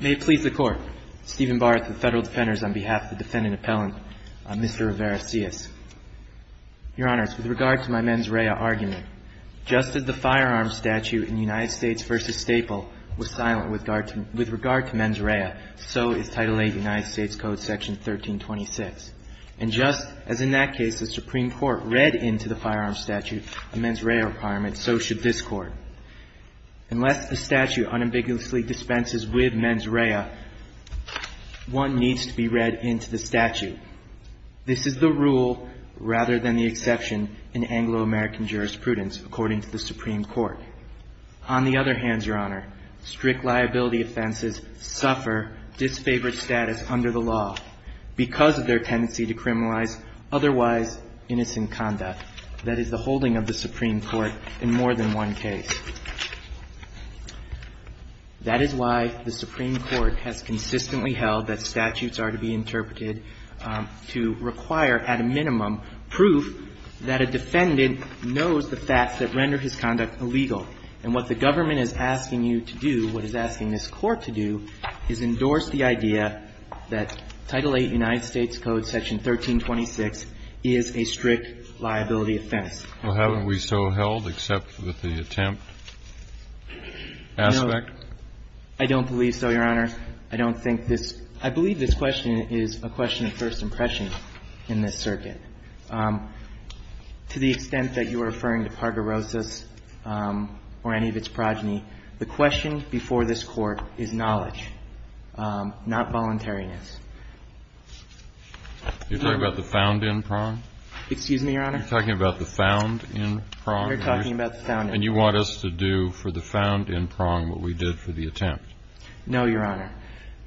May it please the Court, Stephen Barth of the Federal Defenders, on behalf of the Defendant Appellant, Mr. Rivera-Silas. Your Honors, with regard to my mens rea argument, just as the firearms statute in United States v. Staple was silent with regard to mens rea, so is Title VIII United States Code Section 1326. And just as in that case the Supreme Court read into the firearms statute a mens rea requirement, so should this Court. Unless the statute unambiguously dispenses with mens rea, one needs to be read into the statute. This is the rule rather than the exception in Anglo-American jurisprudence, according to the Supreme Court. On the other hand, Your Honor, strict liability offenses suffer disfavored status under the law because of their tendency to criminalize otherwise innocent conduct. That is, the holding of the Supreme Court in more than one case. That is why the Supreme Court has consistently held that statutes are to be interpreted to require, at a minimum, proof that a defendant knows the facts that render his conduct illegal. And what the government is asking you to do, what it's asking this Court to do, is endorse the idea that Title VIII United States Code Section 1326 is a strict liability offense. Well, haven't we so held, except with the attempt aspect? No. I don't believe so, Your Honor. I don't think this – I believe this question is a question of first impression in this circuit. To the extent that you are referring to Parderosas or any of its progeny, the question before this Court is knowledge, not voluntariness. You're talking about the found in prong? Excuse me, Your Honor? You're talking about the found in prong? We're talking about the found in prong. And you want us to do for the found in prong what we did for the attempt? No, Your Honor.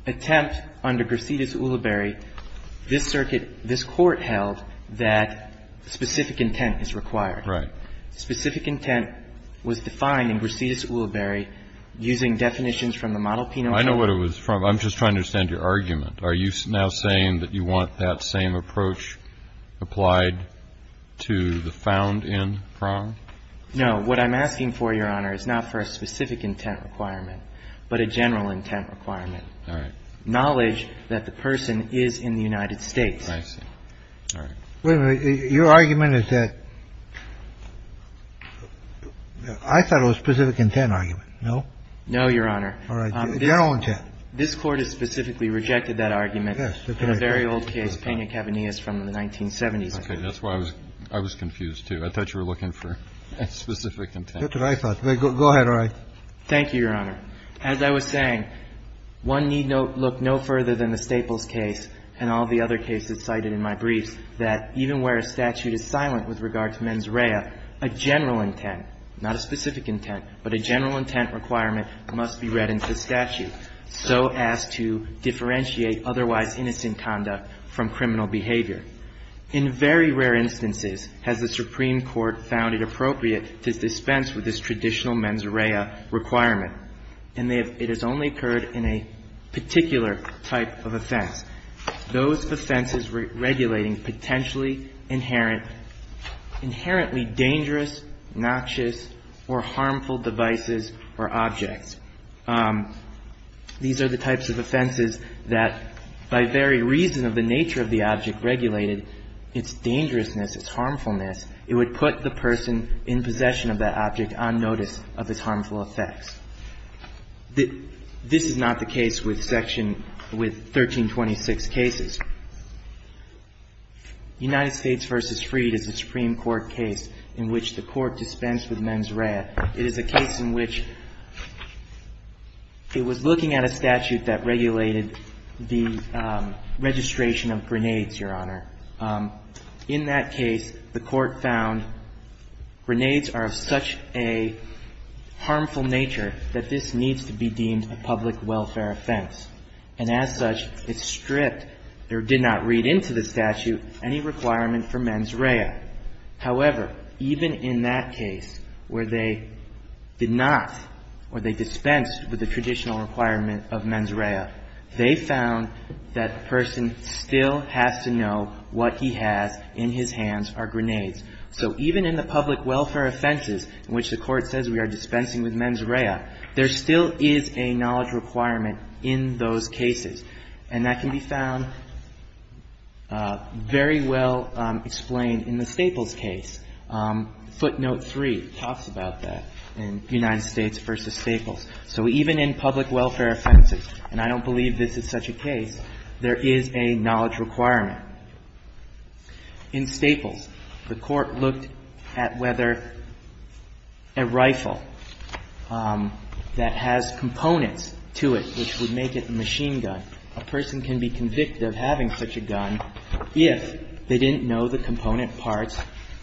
Attempt under Gracidas-Uliberry, this circuit, this Court held that specific intent is required. Right. Specific intent was defined in Gracidas-Uliberry using definitions from the Model Penal Code. I know what it was from. I'm just trying to understand your argument. Are you now saying that you want that same approach applied to the found in prong? No. What I'm asking for, Your Honor, is not for a specific intent requirement, but a general intent requirement. All right. Knowledge that the person is in the United States. I see. All right. Wait a minute. Your argument is that – I thought it was a specific intent argument. No? No, Your Honor. All right. General intent. This Court has specifically rejected that argument in a very old case, Pena-Cavanias from the 1970s. Okay. That's why I was confused, too. I thought you were looking for a specific intent. Go ahead, Roy. Thank you, Your Honor. As I was saying, one need look no further than the Staples case and all the other cases cited in my briefs, that even where a statute is silent with regard to mens rea, a general intent, not a specific intent, but a general intent requirement must be read into statute, so as to differentiate otherwise innocent conduct from criminal behavior. In very rare instances has the Supreme Court found it appropriate to dispense with this traditional mens rea requirement, and it has only occurred in a particular type of offense. Those offenses regulating potentially inherently dangerous, noxious, or harmful devices or objects. These are the types of offenses that, by very reason of the nature of the object regulated, its dangerousness, its harmfulness, it would put the person in possession of that object on notice of its harmful effects. This is not the case with Section 1326 cases. United States v. Freed is a Supreme Court dispensed with mens rea. It is a case in which it was looking at a statute that regulated the registration of grenades, Your Honor. In that case, the court found grenades are of such a harmful nature that this needs to be deemed a public welfare offense. And as such, it stripped, or did not read into the statute, any information in that case where they did not, or they dispensed with the traditional requirement of mens rea. They found that the person still has to know what he has in his hands are grenades. So even in the public welfare offenses in which the court says we are dispensing with mens rea, there still is a knowledge requirement in those cases. And that can be found very well explained in the Staples case. Footnote 3 talks about that, in United States v. Staples. So even in public welfare offenses, and I don't believe this is such a case, there is a knowledge requirement. In Staples, the court looked at whether a rifle that has components to it which would make it a machine gun. A person can be convicted of having such a gun if they didn't know the component parts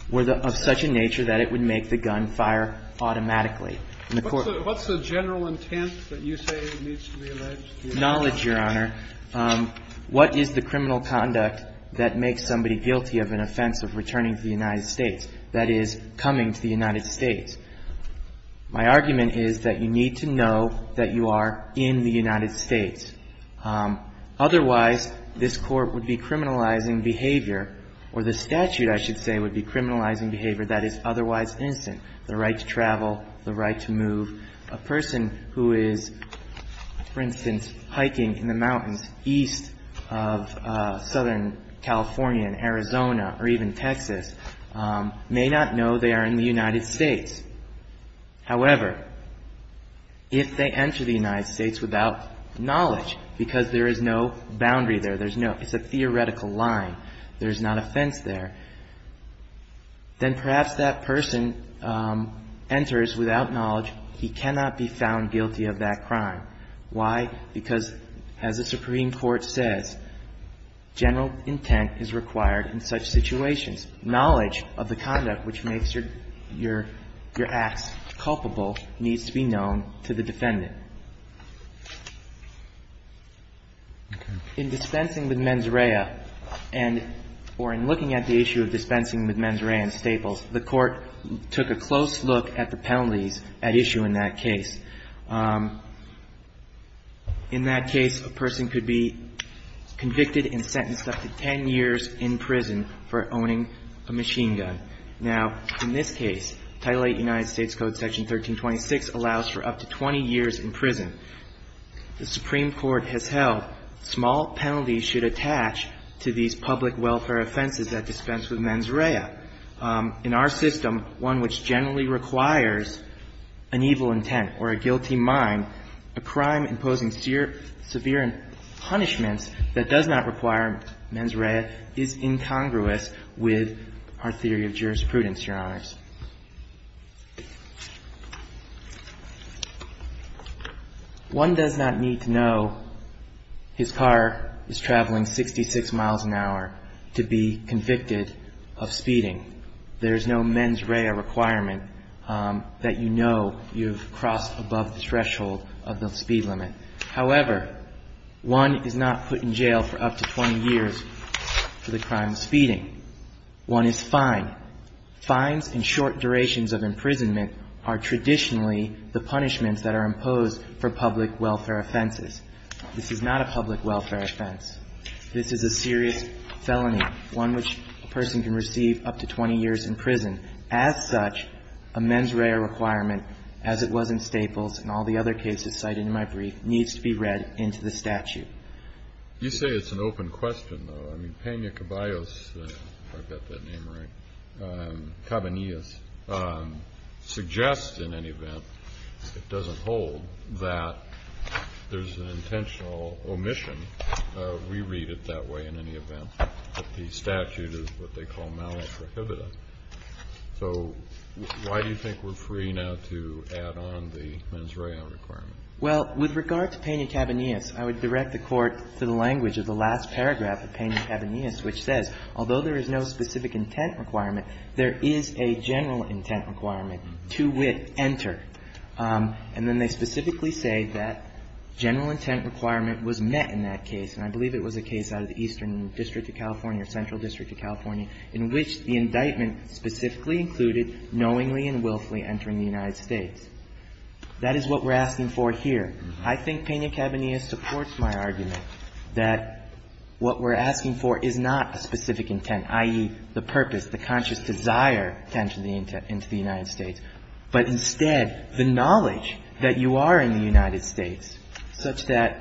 were of such a nature that it would make the gun fire automatically. In the court of law. What's the general intent that you say needs to be alleged? Knowledge, Your Honor. What is the criminal conduct that makes somebody guilty of an offense of returning to the United States, that is, coming to the United States? Otherwise, this court would be criminalizing behavior, or the statute, I should say, would be criminalizing behavior that is otherwise innocent. The right to travel, the right to move. A person who is, for instance, hiking in the mountains east of southern California, in Arizona, or even Texas, may not know they are in the United States. However, if they enter the country without knowledge, because there is no boundary there, it's a theoretical line, there's not a fence there, then perhaps that person enters without knowledge, he cannot be found guilty of that crime. Why? Because, as the Supreme Court says, general intent is required in such situations. Knowledge of the conduct which makes your acts culpable needs to be known to the court. In dispensing with mens rea, or in looking at the issue of dispensing with mens rea and staples, the court took a close look at the penalties at issue in that case. In that case, a person could be convicted and sentenced up to 10 years in prison for owning a machine gun. Now, in this case, Title VIII United States Code Section 1326 allows for up to 20 years in prison. The Supreme Court has held small penalties should attach to these public welfare offenses at dispense with mens rea. In our system, one which generally requires an evil intent or a guilty mind, a crime imposing severe punishments that does not require mens rea is incongruous with our theory of jurisprudence, Your Honors. One does not need to know his car is traveling 66 miles an hour to be convicted of speeding. There is no mens rea requirement that you know you've crossed above the threshold of the speed limit. However, one is not put in jail for up to 20 years for the crime of speeding. One is fined. Fines and charges are not required. Short durations of imprisonment are traditionally the punishments that are imposed for public welfare offenses. This is not a public welfare offense. This is a serious felony, one which a person can receive up to 20 years in prison. As such, a mens rea requirement, as it was in Staples and all the other cases cited in my brief, needs to be read into the statute. Kennedy. You say it's an open question, though. I mean, Pena Caballos, if I've got that name right, Cabanillas, suggests in any event, if it doesn't hold, that there's an intentional omission. We read it that way in any event, that the statute is what they call malice prohibitive. So why do you think we're free now to add on the mens rea requirement? Well, with regard to Pena Caballos, I would direct the Court to the language of the last paragraph of Pena Caballos, which says, although there is no specific intent requirement, there is a general intent requirement to wit enter. And then they specifically say that general intent requirement was met in that case, and I believe it was a case out of the Eastern District of California or Central District of California, in which the indictment specifically included knowingly and willfully entering the United States. That is what we're asking for here. I think Pena Caballos supports my argument that what we're asking for is not a specific intent, i.e., the purpose, the conscious desire to enter the United States, but instead the knowledge that you are in the United States such that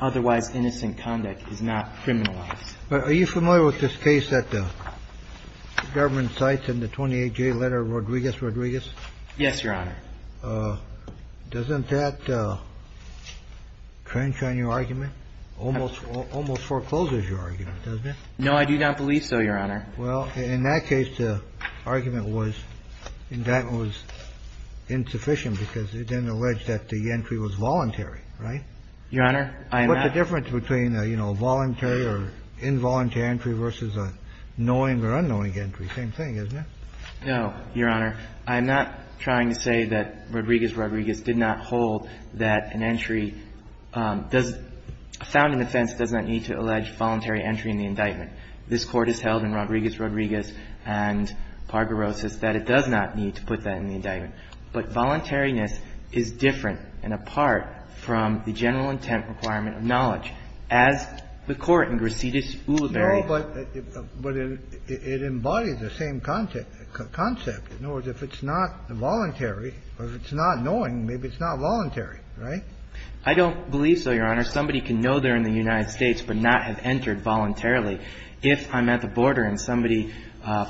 otherwise innocent conduct is not criminalized. But are you familiar with this case that the government cites in the 28J letter of Rodriguez, Rodriguez? Yes, Your Honor. Doesn't that trench on your argument? Almost forecloses your argument, doesn't it? No, I do not believe so, Your Honor. Well, in that case, the argument was the indictment was insufficient because it didn't allege that the entry was voluntary, right? Your Honor, I am not. What's the difference between a voluntary or involuntary entry versus a knowing or unknowing entry? Same thing, isn't it? No, Your Honor. I'm not trying to say that Rodriguez, Rodriguez did not hold that an entry does — found an offense does not need to allege voluntary entry in the indictment. This Court has held in Rodriguez, Rodriguez and Pargorosis that it does not need to put that in the indictment. But voluntariness is different and apart from the general intent requirement of knowledge. As the Court in Grisidis-Ulibarri. No, but it embodies the same concept. In other words, if it's not voluntary or if it's not knowing, maybe it's not voluntary, right? I don't believe so, Your Honor. Somebody can know they're in the United States but not have entered voluntarily. If I'm at the border and somebody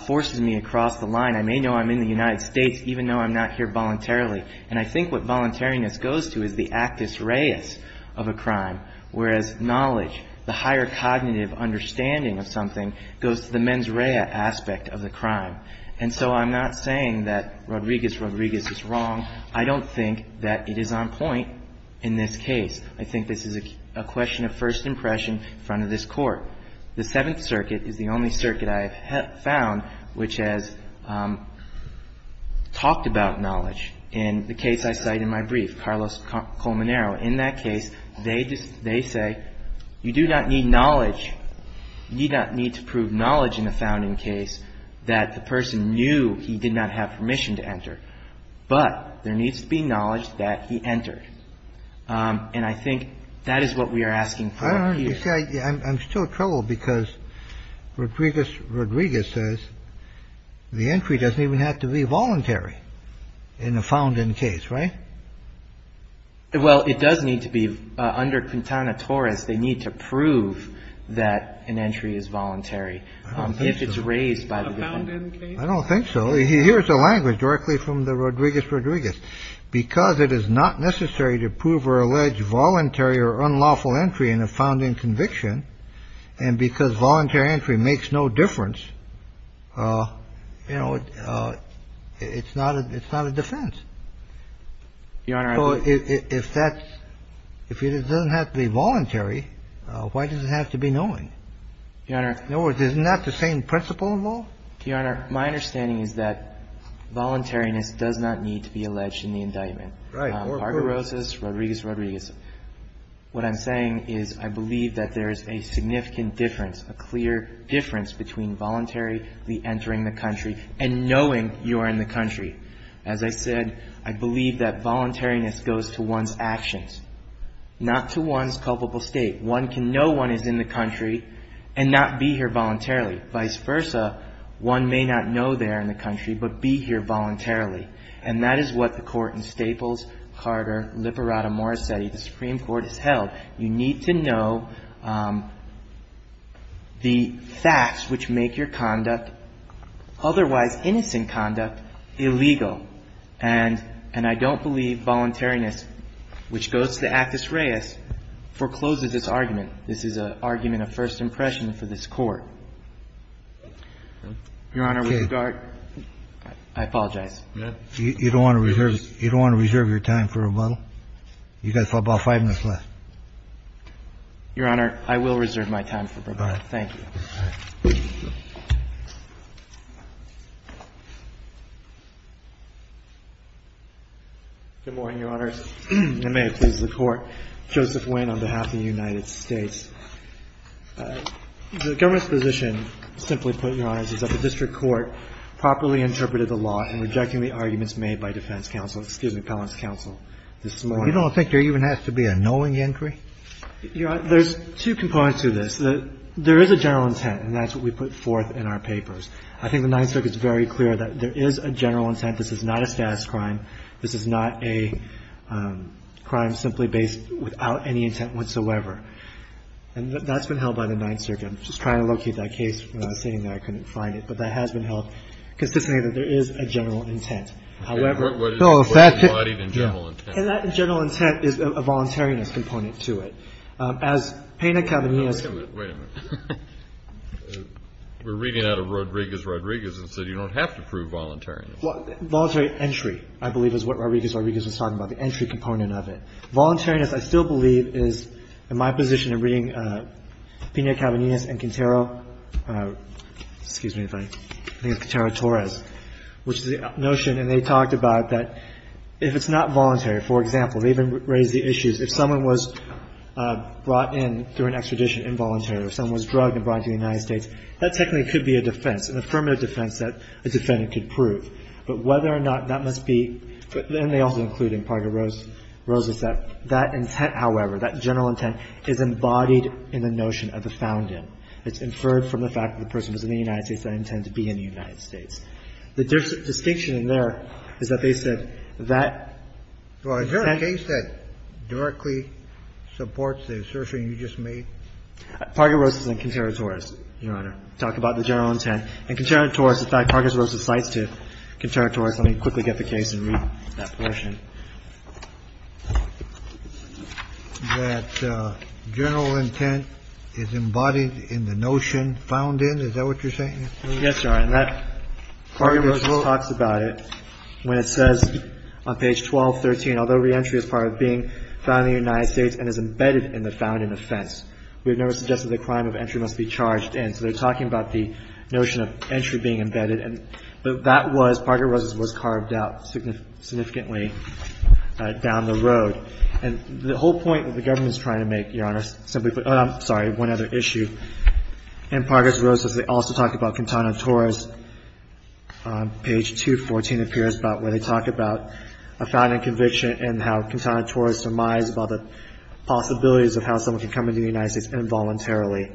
forces me across the line, I may know I'm in the United States even though I'm not here voluntarily. And I think what voluntariness goes to is the actus reus of a crime, whereas knowledge, the higher cognitive understanding of something goes to the mens rea aspect of the crime. And so I'm not saying that Rodriguez, Rodriguez is wrong. I don't think that it is on point in this case. I think this is a question of first impression in front of this Court. The Seventh Circuit is the only circuit I have found which has talked about knowledge. In the case I cite in my brief, Carlos Colmanero, in that case, they say you do not need knowledge, you do not need to prove knowledge in a founding case that the person knew he did not have permission to enter. But there needs to be knowledge that he entered. And I think that is what we are asking for here. I'm still troubled because Rodriguez, Rodriguez says the entry doesn't even have to be voluntary in a found in case. Right. Well, it does need to be under Quintana Torres. They need to prove that an entry is voluntary if it's raised by a found in case. I don't think so. Here's a language directly from the Rodriguez, Rodriguez, because it is not necessary to prove or allege voluntary or unlawful entry in a found in conviction. And because voluntary entry makes no difference, you know, it's not a it's not a defense. Your Honor. If that's if it doesn't have to be voluntary, why does it have to be knowing? Your Honor. Isn't that the same principle of all? Your Honor, my understanding is that voluntariness does not need to be alleged in the indictment. Right. Barbarosas, Rodriguez, Rodriguez. What I'm saying is I believe that there is a significant difference, a clear difference between voluntary entering the country and knowing you are in the country. As I said, I believe that voluntariness goes to one's actions, not to one's culpable state. One can know one is in the country and not be here voluntarily. Vice versa. One may not know they're in the country, but be here voluntarily. And that is what the court in Staples, Carter, Lipperata, Morissetti, the Supreme Court has held. You need to know the facts which make your conduct otherwise innocent conduct illegal. And and I don't believe voluntariness, which goes to the actus reus, forecloses this argument. This is an argument of first impression for this court. Your Honor, we regard. I apologize. You don't want to reserve. You don't want to reserve your time for a while. You got about five minutes left. Your Honor, I will reserve my time. Thank you. Good morning, Your Honor. May it please the court. Joseph Wayne on behalf of the United States. The government's position, simply put, Your Honor, is that the district court properly interpreted the law in rejecting the arguments made by defense counsel, excuse me, appellant's counsel this morning. You don't think there even has to be a no in the inquiry? Your Honor, there's two components to this. There is a general intent, and that's what we put forth in our papers. I think the Ninth Circuit is very clear that there is a general intent. This is not a status crime. This is not a crime simply based without any intent whatsoever. And that's been held by the Ninth Circuit. I'm just trying to locate that case. I was sitting there. I couldn't find it. But that has been held, because this means that there is a general intent. What is embodied in general intent? And that general intent is a voluntariness component to it. As Payne Academy has- Wait a minute. We're reading out of Rodriguez-Rodriguez and said you don't have to prove voluntariness. Voluntary entry, I believe, is what Rodriguez-Rodriguez was talking about, the entry component of it. Voluntariness, I still believe, is in my position in reading Pena-Cabanillas and Quintero- excuse me if I- I think it's Quintero-Torres, which is the notion, and they talked about that if it's not voluntary, for example, they even raised the issues if someone was brought in through an extradition involuntary or someone was drugged and brought into the United States, that technically could be a defense, an affirmative defense that a defendant could prove. But whether or not that must be, and they also include in Parga-Rosas that that intent, however, that general intent is embodied in the notion of the found in. It's inferred from the fact that the person was in the United States and they intend to be in the United States. The distinction in there is that they said that- Well, is there a case that directly supports the assertion you just made? Parga-Rosas and Quintero-Torres, Your Honor, talk about the general intent. And Quintero-Torres, in fact, Parga-Rosas cites to Quintero-Torres. Let me quickly get the case and read that portion. That general intent is embodied in the notion found in? Is that what you're saying? Yes, Your Honor. And that Parga-Rosas talks about it when it says on page 1213, although reentry is part of being found in the United States and is embedded in the found in offense, we have never suggested the crime of entry must be charged in. So they're talking about the notion of entry being embedded. But that was, Parga-Rosas was carved out significantly down the road. And the whole point that the government is trying to make, Your Honor, simply put- I'm sorry, one other issue. In Parga-Rosas, they also talk about Quintero-Torres. Page 214 appears about where they talk about a found in conviction and how Quintero-Torres surmised about the possibilities of how someone could come to the United States involuntarily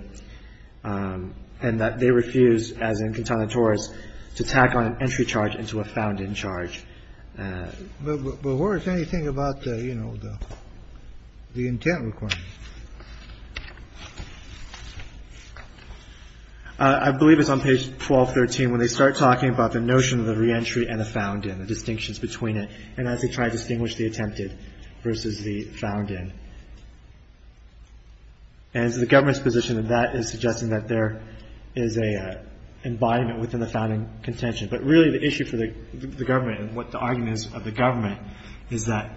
and that they refused, as in Quintero-Torres, to tack on an entry charge into a found in charge. But where is anything about the, you know, the intent requirement? I believe it's on page 1213 when they start talking about the notion of the reentry and the found in, the distinctions between it, and as they try to distinguish the attempted versus the found in. And so the government's position of that is suggesting that there is an embodiment within the found in contention. But really the issue for the government and what the argument is of the government is that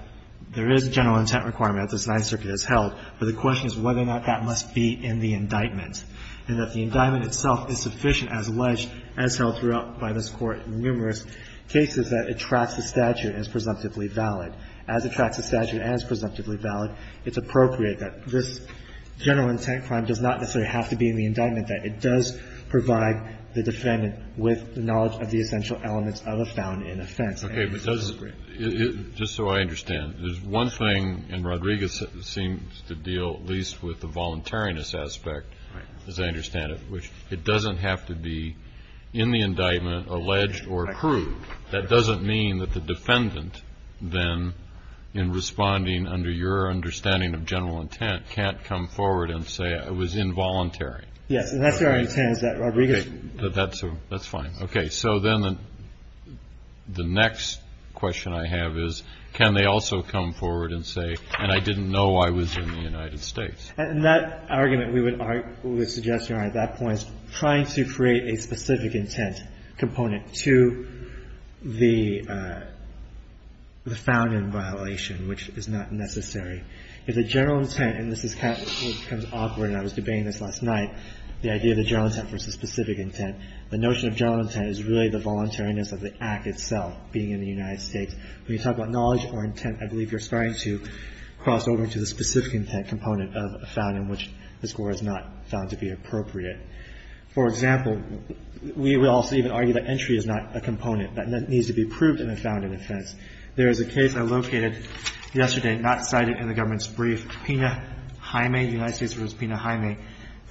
there is a general intent requirement that this Ninth Circuit has held, but the question is whether or not that must be in the indictment and that the indictment itself is sufficient as alleged as held throughout by this Court in numerous cases that it tracks the statute as presumptively valid. As it tracks the statute as presumptively valid, it's appropriate that this general intent requirement does not necessarily have to be in the indictment, that it does provide the defendant with the knowledge of the essential elements of a found in offense. Okay. But does it, just so I understand, there's one thing, and Rodriguez seems to deal at least with the voluntariness aspect, as I understand it, which it doesn't have to be in the indictment, alleged or proved. That doesn't mean that the defendant then, in responding under your understanding of general intent, can't come forward and say it was involuntary. Yes. And that's where our intent is at, Rodriguez. That's fine. Okay. So then the next question I have is, can they also come forward and say, and I didn't know I was in the United States. And that argument we would suggest here at that point was trying to create a specific intent component to the found in violation, which is not necessary. If the general intent, and this becomes awkward and I was debating this last night, the idea of the general intent versus specific intent, the notion of general intent is really the voluntariness of the act itself, being in the United States. When you talk about knowledge or intent, I believe you're trying to cross over to the specific intent component of a found in which the score is not found to be appropriate. For example, we would also even argue that entry is not a component that needs to be proved in a found in offense. There is a case I located yesterday, not cited in the government's brief, Pena Jaime, United States v. Pena Jaime,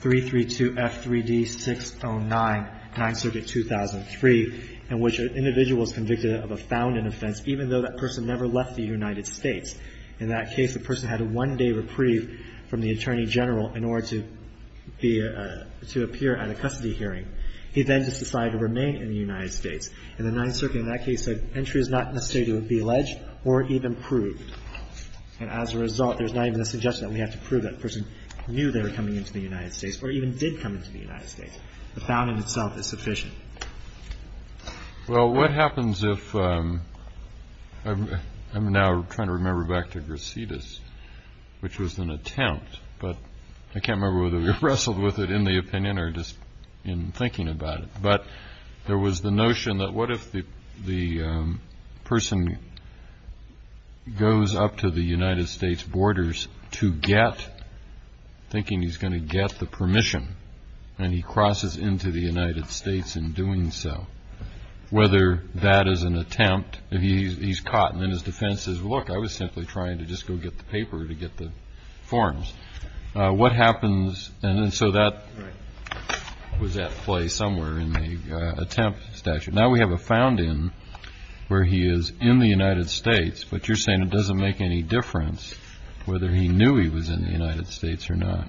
332F3D609, 9th Circuit, 2003, in which an individual is convicted of a found in offense, even though that person never left the United States. In that case, the person had a one-day reprieve from the attorney general in order to appear at a custody hearing. He then just decided to remain in the United States. In the 9th Circuit, in that case, entry is not necessary to be alleged or even proved. And as a result, there's not even a suggestion that we have to prove that person knew they were coming into the United States or even did come into the United States. The found in itself is sufficient. Well, what happens if, I'm now trying to remember back to Grisittis, which was an attempt, but I can't remember whether we wrestled with it in the opinion or just in thinking about it. But there was the notion that what if the person goes up to the United States borders to get, thinking he's going to get the permission, and he crosses into the United States in doing so, whether that is an attempt, and he's caught, and then his defense says, look, I was simply trying to just go get the paper to get the forms. What happens? And so that was at play somewhere in the attempt statute. Now, we have a found in where he is in the United States, but you're saying it doesn't make any difference whether he knew he was in the United States or not.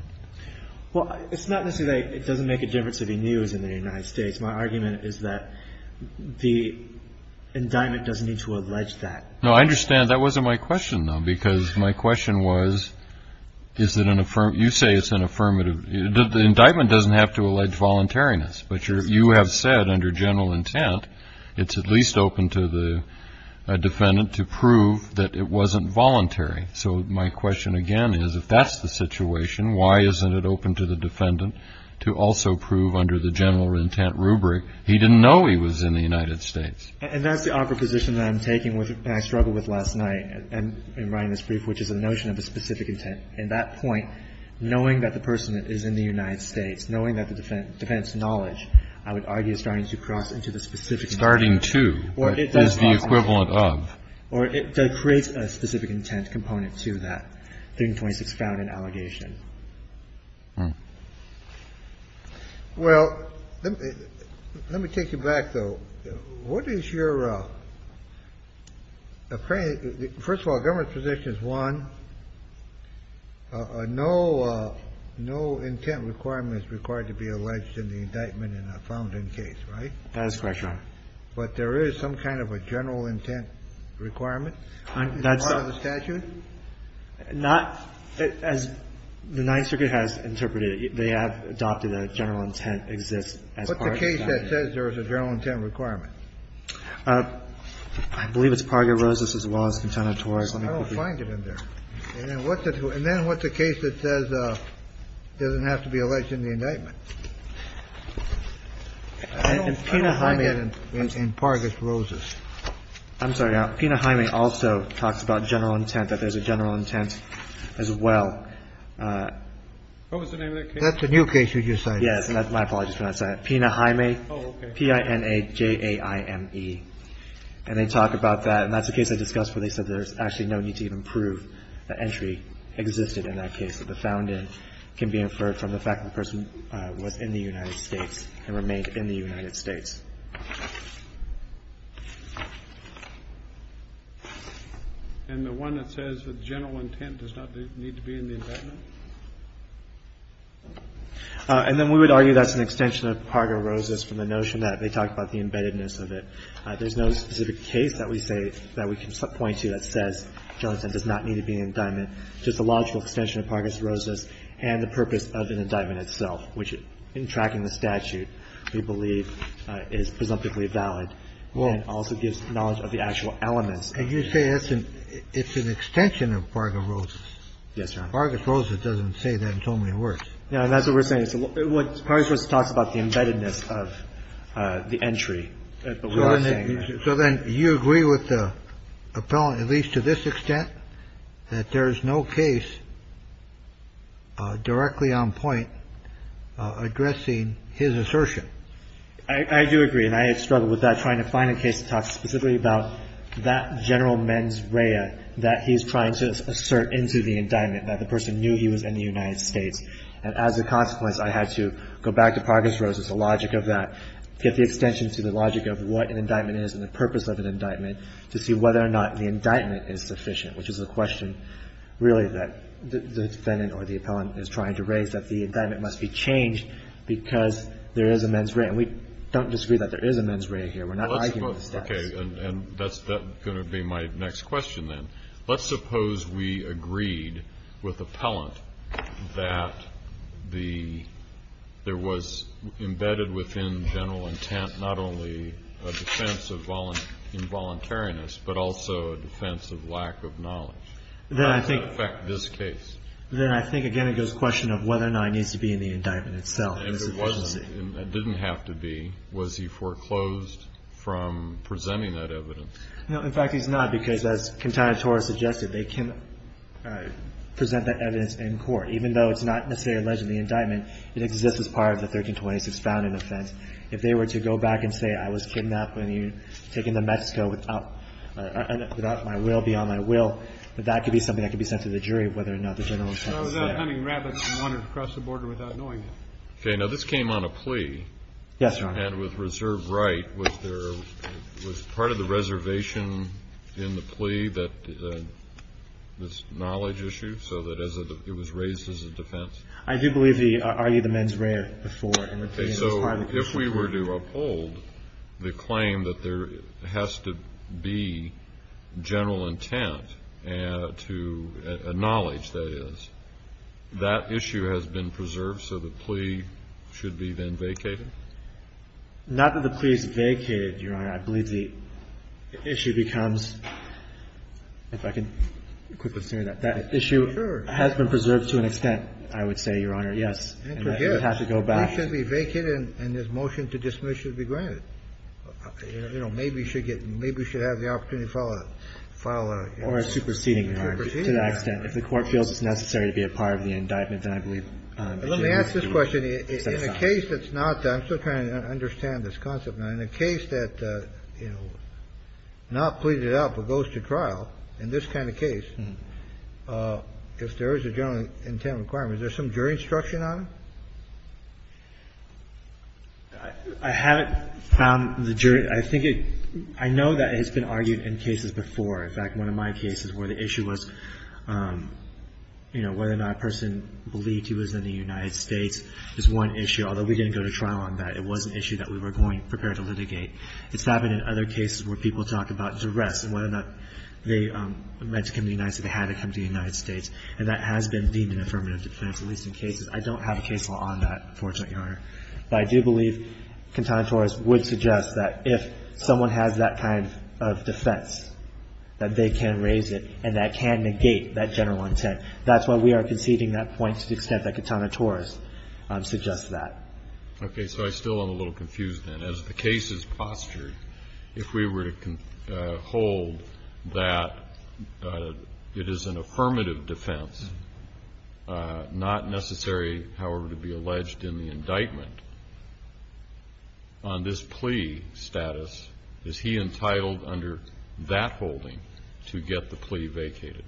Well, it's not necessarily, it doesn't make a difference if he knew he was in the United States. My argument is that the indictment doesn't need to allege that. No, I understand. That wasn't my question, though, because my question was, is it an affirmative? You say it's an affirmative. The indictment doesn't have to allege voluntariness, but you have said under general intent, it's at least open to the defendant to prove that it wasn't voluntary. So my question again is, if that's the situation, why isn't it open to the defendant to also prove under the general intent rubric? He didn't know he was in the United States. And that's the awkward position that I'm taking, and I struggled with last night in writing this brief, which is the notion of a specific intent. And that point, knowing that the person is in the United States, knowing that the defendant's knowledge, I would argue, is starting to cross into the specific intent. Starting to is the equivalent of. Or it does create a specific intent component to that. 1326 found and allegation. Well, let me take you back, though. What is your. First of all, government position is one. No, no intent requirement is required to be alleged in the indictment in a found in case, right? That is correct, Your Honor. But there is some kind of a general intent requirement. That's part of the statute? Not as the Ninth Circuit has interpreted it. They have adopted a general intent exists as part of the statute. That says there is a general intent requirement. I believe it's part of your roses as well as content. I don't find it in there. And then what's it? And then what's the case that says doesn't have to be alleged in the indictment? And I mean, in part, it's roses. I'm sorry. Pena. Jaime also talks about general intent, that there's a general intent as well. What was the name of that? That's a new case. Would you say? Yes. My apologies for not saying it. Pena Jaime. Oh, okay. P-I-N-A-J-A-I-M-E. And they talk about that. And that's the case I discussed where they said there's actually no need to even prove that entry existed in that case, that the found in can be inferred from the fact the person was in the United States and remained in the United States. And the one that says the general intent does not need to be in the indictment? And then we would argue that's an extension of Pargis Roses from the notion that they talk about the embeddedness of it. There's no specific case that we say that we can point to that says general intent does not need to be in the indictment. Just a logical extension of Pargis Roses and the purpose of an indictment itself, which in tracking the statute, we believe is presumptively valid and also gives knowledge of the actual elements. And you say it's an extension of Pargis Roses? Yes, Your Honor. Pargis Roses doesn't say that in so many words. Yeah, and that's what we're saying. Pargis Roses talks about the embeddedness of the entry. So then you agree with the appellant, at least to this extent, that there is no case directly on point addressing his assertion? I do agree. And I had struggled with that, trying to find a case to talk specifically about that general mens rea that he's trying to assert into the indictment, that the person knew he was in the United States. And as a consequence, I had to go back to Pargis Roses, the logic of that, get the extension to the logic of what an indictment is and the purpose of an indictment, to see whether or not the indictment is sufficient, which is the question really that the defendant or the appellant is trying to raise, that the indictment must be changed because there is a mens rea. And we don't disagree that there is a mens rea here. We're not arguing with the statutes. Okay. And that's going to be my next question then. Let's suppose we agreed with appellant that there was embedded within general intent not only a defense of involuntariness, but also a defense of lack of knowledge. How does that affect this case? Then I think, again, it goes to the question of whether or not it needs to be in the indictment itself. And if it wasn't, and it didn't have to be, was he foreclosed from presenting that evidence? No. In fact, he's not because, as Quintana Torres suggested, they can present that evidence in court, even though it's not necessarily alleged in the indictment, it exists as part of the 1326 founding offense. If they were to go back and say, I was kidnapped when you took me to Mexico without my will, beyond my will, that could be something that could be sent to the jury whether or not the general intent was there. So without hunting rabbits, he wanted to cross the border without knowing it. Okay. Now this came on a plea. Yes, Your Honor. And with reserve right, was there, was part of the reservation in the plea that this knowledge issue, so that as it was raised as a defense? I do believe the, are you the mens rea before? Okay. So if we were to uphold the claim that there has to be general intent to acknowledge that is, that issue has been preserved. So the plea should be then vacated. Not that the plea is vacated, Your Honor. I believe the issue becomes, if I can quickly say that, that issue has been preserved to an extent, I would say, Your Honor. Yes. It would have to go back. The plea should be vacated and his motion to dismiss should be granted. You know, maybe you should get, maybe you should have the opportunity to file a, file a. Or a superseding, Your Honor, to that extent. If the court feels it's necessary to be a part of the indictment, then I believe. Let me ask this question. In a case that's not, I'm still trying to understand this concept. In a case that, you know, not pleaded out but goes to trial, in this kind of case, if there is a general intent requirement, is there some jury instruction on it? I haven't found the jury. I think it, I know that it's been argued in cases before. In fact, one of my cases where the issue was, you know, whether or not a person believed he was in the United States. There's one issue, although we didn't go to trial on that. It was an issue that we were going, prepared to litigate. It's happened in other cases where people talk about duress and whether or not they meant to come to the United States, they had to come to the United States. And that has been deemed an affirmative defense, at least in cases. I don't have a case law on that, unfortunately, Your Honor. But I do believe Katana Taurus would suggest that if someone has that kind of defense, that they can raise it and that can negate that general intent. That's why we are conceding that point to the extent that Katana Taurus suggests that. Okay. So I still am a little confused then. As the case is postured, if we were to hold that it is an affirmative defense, not necessary, however, to be alleged in the indictment on this plea status, is he entitled under that holding to get the plea vacated?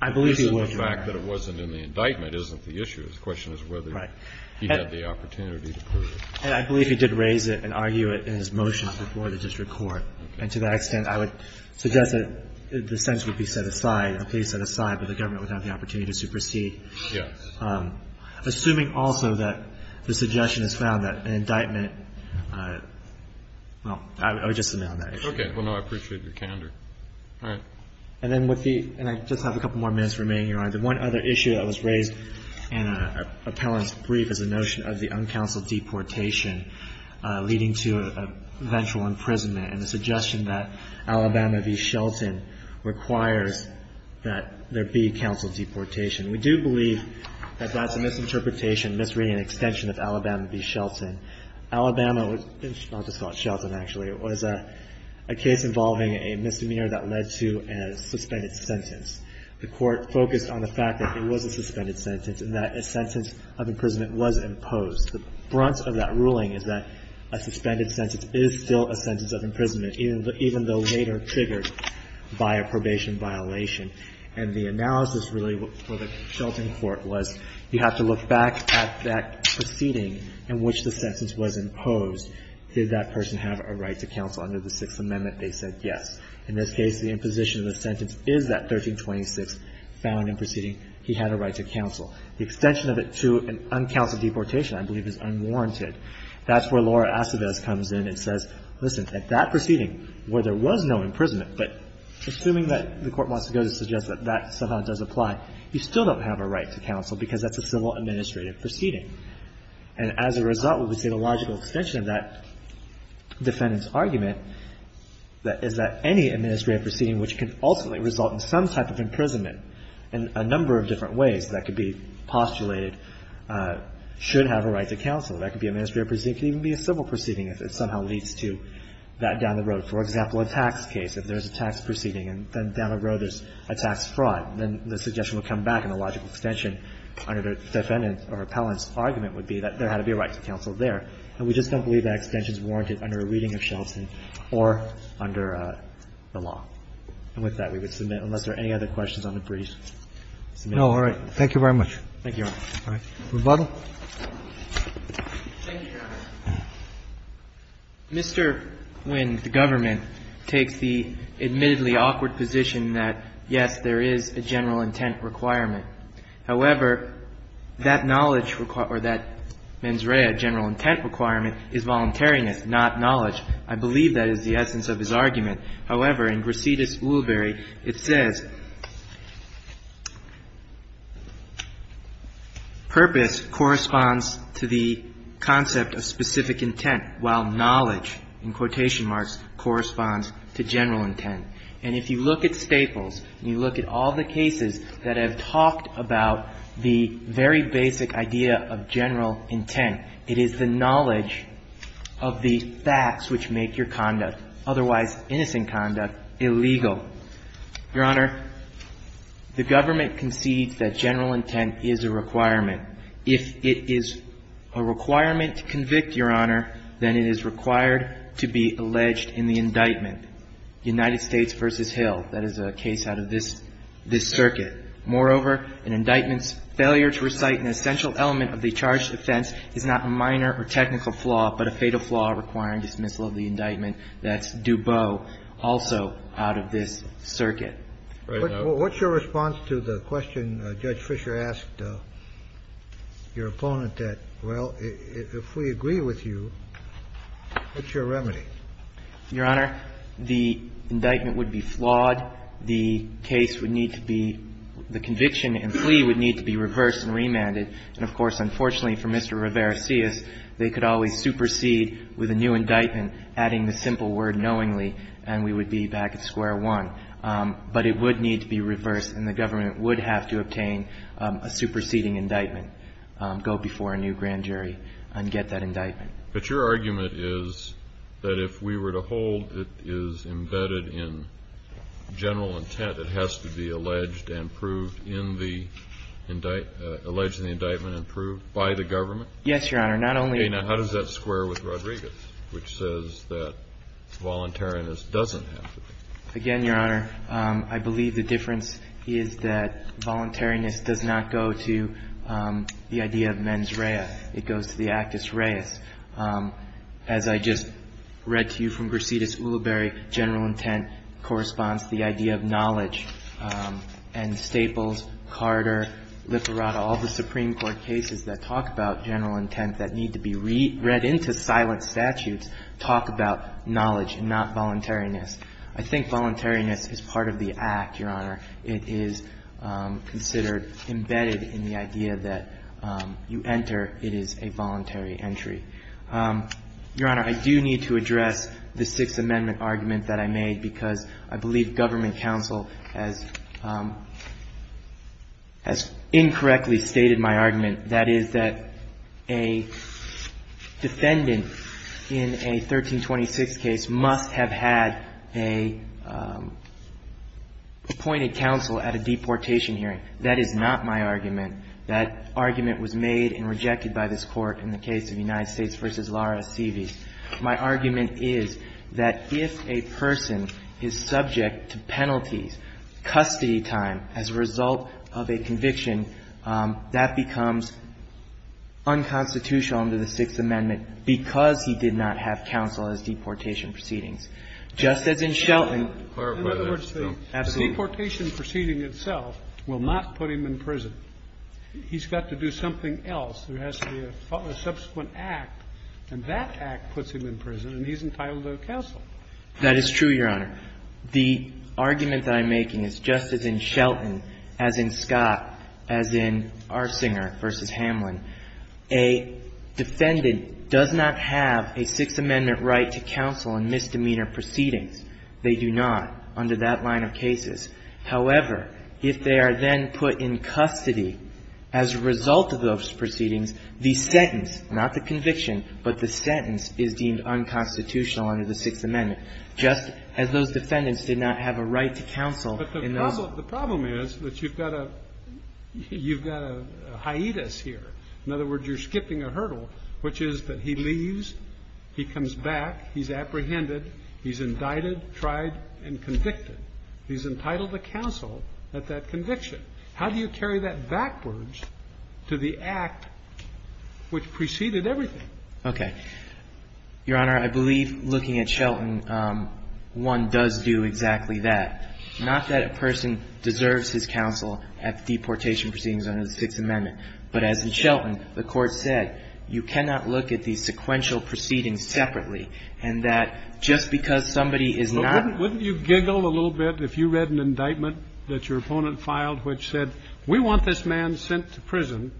I believe he would, Your Honor. The fact that it wasn't in the indictment isn't the issue. The question is whether he had the opportunity to prove it. I believe he did raise it and argue it in his motions before the district court. And to that extent, I would suggest that the sentence would be set aside, the plea set aside, but the government would have the opportunity to supersede. Yes. Assuming also that the suggestion is found that an indictment, well, I would just submit on that issue. Okay. Well, no, I appreciate your candor. All right. And then with the, and I just have a couple more minutes remaining, Your Honor, the one other issue that was raised in an appellant's brief is the notion of the uncounseled deportation leading to eventual imprisonment and the suggestion that Alabama v. Shelton requires that there be counseled deportation. We do believe that that's a misinterpretation, misreading, an extension of Alabama v. Shelton. Alabama was, I'll just call it Shelton, actually, it was a case involving a misdemeanor that led to a suspended sentence. The court focused on the fact that it was a suspended sentence and that a sentence of imprisonment was imposed. The brunt of that ruling is that a suspended sentence is still a sentence of imprisonment, even though later triggered by a probation violation. And the analysis really for the Shelton court was you have to look back at that proceeding in which the sentence was imposed. Did that person have a right to counsel under the Sixth Amendment? They said yes. In this case, the imposition of the sentence is that 1326 found in proceeding. He had a right to counsel. The extension of it to an uncounseled deportation, I believe, is unwarranted. That's where Laura Aceves comes in and says, listen, at that proceeding where there was no imprisonment, but assuming that the court wants to go to suggest that that somehow does apply, you still don't have a right to counsel because that's a civil administrative proceeding. And as a result, we would say the logical extension of that defendant's argument is that any administrative proceeding which can ultimately result in some type of imprisonment in a number of different ways that could be postulated should have a right to counsel. That could be an administrative proceeding. It could even be a civil proceeding if it somehow leads to that down the road. For example, a tax case, if there's a tax proceeding and then down the road there's a tax fraud, then the suggestion would come back and the logical extension under the defendant's or appellant's argument would be that there had to be a right to counsel there. And we just don't believe that extension is warranted under a reading of Shelton or under the law. And with that, we would submit, unless there are any other questions on the brief. Roberts. No. All right. Thank you very much. Thank you, Your Honor. All right. Rebuttal. Thank you, Your Honor. Mr. Nguyen, the government takes the admittedly awkward position that, yes, there is a general intent requirement. However, that knowledge requi... or that mens rea, general intent requirement, is voluntariness, not knowledge. I believe that is the essence of his argument. However, in Gracetus Woolbury, it says, purpose corresponds to the concept of specific intent, while knowledge, in quotation marks, corresponds to general intent. And if you look at Staples, and you look at all the cases that have talked about the very basic idea of general intent, it is the knowledge of the facts which make your conduct, otherwise innocent conduct, illegal. Your Honor, the government concedes that general intent is a requirement. If it is a requirement to convict, Your Honor, then it is required to be alleged in the indictment. United States v. Hill. That is a case out of this, this circuit. Moreover, an indictment's failure to recite an essential element of the charged offense is not a minor or technical flaw, but a fatal flaw requiring dismissal of the indictment. That's Dubot, also out of this circuit. What's your response to the question Judge Fisher asked your opponent that, well, if we agree with you, what's your remedy? Your Honor, the indictment would be flawed. The case would need to be the conviction and plea would need to be reversed and remanded. And, of course, unfortunately for Mr. Rivera-Cias, they could always supersede with a new indictment, adding the simple word knowingly, and we would be back at square one. But it would need to be reversed and the government would have to obtain a superseding indictment, go before a new grand jury and get that indictment. But your argument is that if we were to hold it is embedded in general intent, it has to be alleged and proved in the alleged in the indictment and proved by the government? Yes, Your Honor, not only... Okay, now, how does that square with Rodriguez, which says that voluntariness doesn't have to be? Again, Your Honor, I believe the difference is that voluntariness does not go to the idea of mens rea. It goes to the actus reis. As I just read to you from Gracides Ulibarri, general intent corresponds to the idea of knowledge and Staples, Carter, Lipperata, all the Supreme Court cases that talk about general intent that need to be read into silent statutes talk about knowledge and not voluntariness. I think voluntariness is part of the act, Your Honor. It is considered embedded in the idea that you enter it is a voluntary entry. Your Honor, I do need to address the Sixth Amendment argument that I made because I believe government counsel has has incorrectly stated my argument that is that a defendant in a 1326 case must have had a appointed counsel at a deportation hearing. That is not my argument. That argument was made and rejected by this court in the case of United States v. Lara Sievis. My argument is that if a person is subject to penalties custody time as a result of a conviction that becomes unconstitutional under the Sixth Amendment because he did not have counsel as deportation proceedings. Just as in Shelton. Absolutely. The deportation proceeding itself will not put him in prison. He's got to do something else. There has to be a subsequent act and that act puts him in prison and he's entitled to counsel. That is true, Your Honor. The argument that I'm making is just as in Shelton as in Scott as in Arsinger v. Hamlin. A defendant does not have a Sixth Amendment right to counsel in misdemeanor proceedings. They do not under that line of cases. However, if they are then put in custody as a result of those proceedings, the sentence not the conviction but the sentence is deemed unconstitutional under the Sixth Amendment just as those defendants did not have a right to counsel in those. But the problem is that you've got a hiatus here. In other words, you're skipping a hurdle which is that he leaves, he comes back, he's apprehended, he's indicted, tried, and convicted. He's entitled to counsel at that conviction. How do you carry that backwards to the act which preceded everything? Okay. Your Honor, I believe looking at Shelton one does do exactly that. Not that a person deserves his counsel at deportation proceedings under the Sixth Amendment. But as in Shelton, the Court said you cannot look at these sequential proceedings separately and that just because somebody is not Wouldn't you giggle a little bit if you read an indictment that your opponent filed which said we want this man sent to prison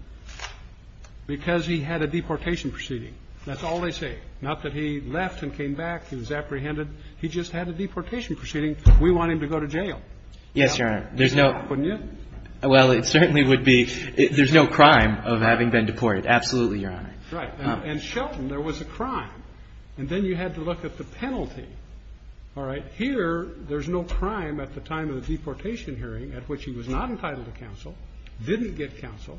because he had a deportation proceeding. That's all they say. Not that he left and came back, he was apprehended. He just had a deportation proceeding. We want him to go to jail. Yes, Your Honor. There's no Wouldn't you? Well, it certainly would be there's no crime of having been deported. Absolutely, Your Honor. Right. And in Shelton there was a crime and then you had to look at the penalty. All right. Here, there's no crime at the time of the deportation hearing at which he was not entitled to counsel, didn't get counsel,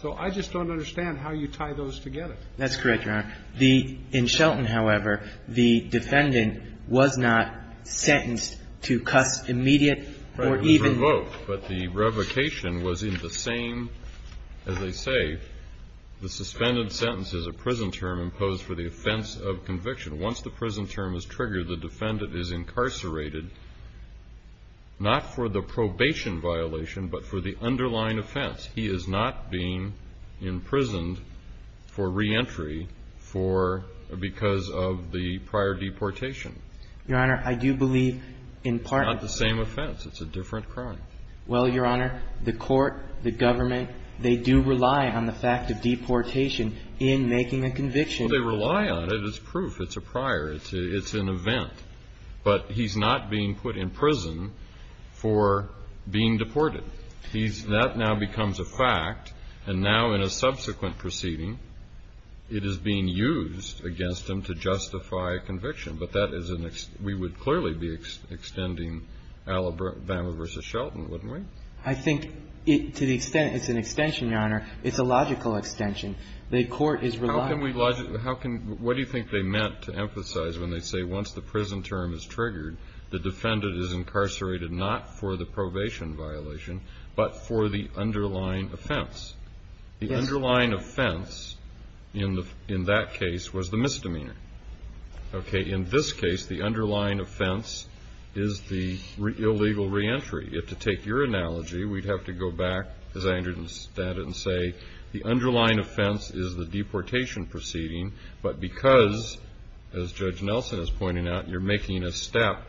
so I just don't understand how you tie those together. That's correct, Your Honor. In Shelton, however, the defendant was not sentenced to immediate or even But the revocation was in the same as they say the suspended sentence is a prison term imposed for the offense of conviction. Once the prison term is triggered, the defendant is incarcerated not for the probation violation but for the underlying offense. He is not being imprisoned for reentry for because of the prior deportation. Your Honor, I do believe in part Not the same offense. It's a different crime. Well, Your Honor, the court, the government, they do rely on the fact of deportation in making a conviction Well, they rely on it. It's proof. It's a prior. It's an event. But he's not being put in prison for being deported. That now becomes a fact and now in a subsequent proceeding it is being used against him to justify a conviction. But that is an we would clearly be extending Alabama v. Shelton, wouldn't we? I think to the extent it's an extension, Your Honor, it's a logical extension. The court is relying How can we what do you think they meant to emphasize when they say once the prison term is triggered the defendant is incarcerated not for the probation violation but for the underlying offense. Yes. The underlying offense in that case was the misdemeanor. Okay. In this case the underlying offense is the illegal reentry. If to take your analogy we'd have to go back as I understand it and say the underlying offense is the deportation proceeding but because as Judge Nelson is pointing out you're making a step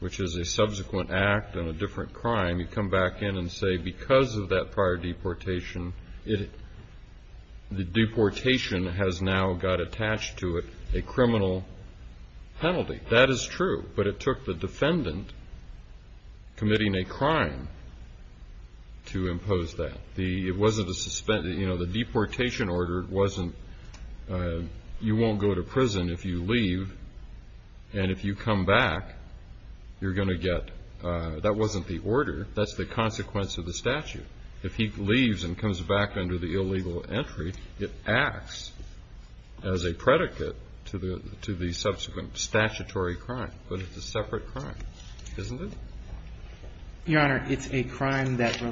which is a subsequent act on a different crime you come back in and say because of that prior deportation it the deportation has now got attached to it a criminal penalty. That is true but it took the defendant committing a crime to impose that. The deportation order wasn't you won't go to prison if you leave and if you come back you're going to get that wasn't the order that's the consequence of the statute. If he leaves and comes back under the illegal entry it acts as a predicate to the subsequent statutory crime but it's a separate crime isn't it? Your Honor it's a crime that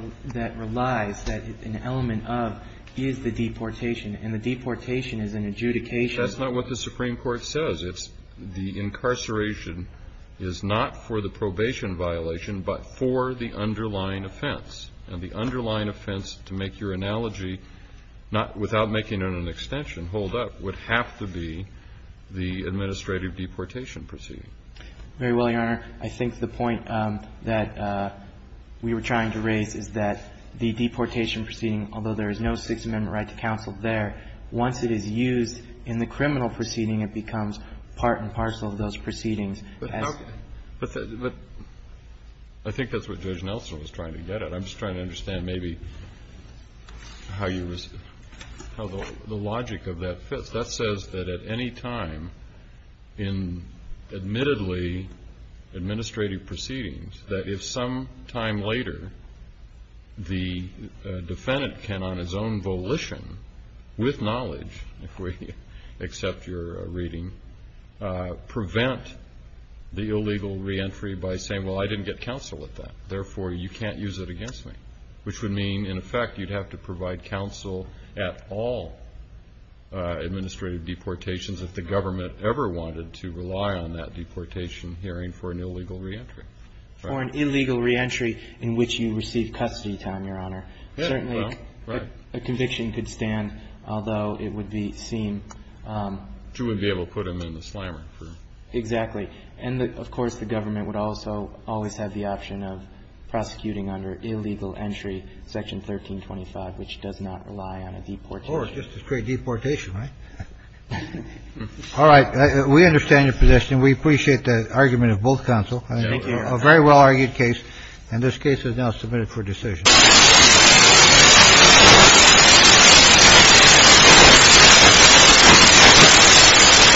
relies an element of is the deportation and the deportation is an adjudication That's not what the Supreme Court says it's the incarceration is not for the probation violation but for the underlying offense and the underlying offense to make your analogy without making an extension hold up would have to be the administrative deportation proceeding Very well Your Honor I think the point that to raise is that the deportation proceeding although there is no Sixth Amendment right to counsel there once it is used in the criminal how you how the logic of that that says that at any time in admittedly administrative proceedings that if sometime later the defendant can on his own volition with knowledge if we accept your reading prevent the illegal re-entry by saying well I didn't get counsel with that therefore you can't use it against me which would mean in effect you'd have to provide counsel at all administrative deportations if the government to rely on that deportation hearing for an illegal re-entry For an illegal re-entry in which you receive custody time Your Honor Certainly a conviction could stand although it would be seen to be able to put him in the slammer Exactly and of course the government would also always have the option of prosecuting under illegal entry section 1325 which does not rely on a deportation Or just a straight deportation All right we understand your position we appreciate the argument of both counsel a very well argued case and this case is now submitted for decision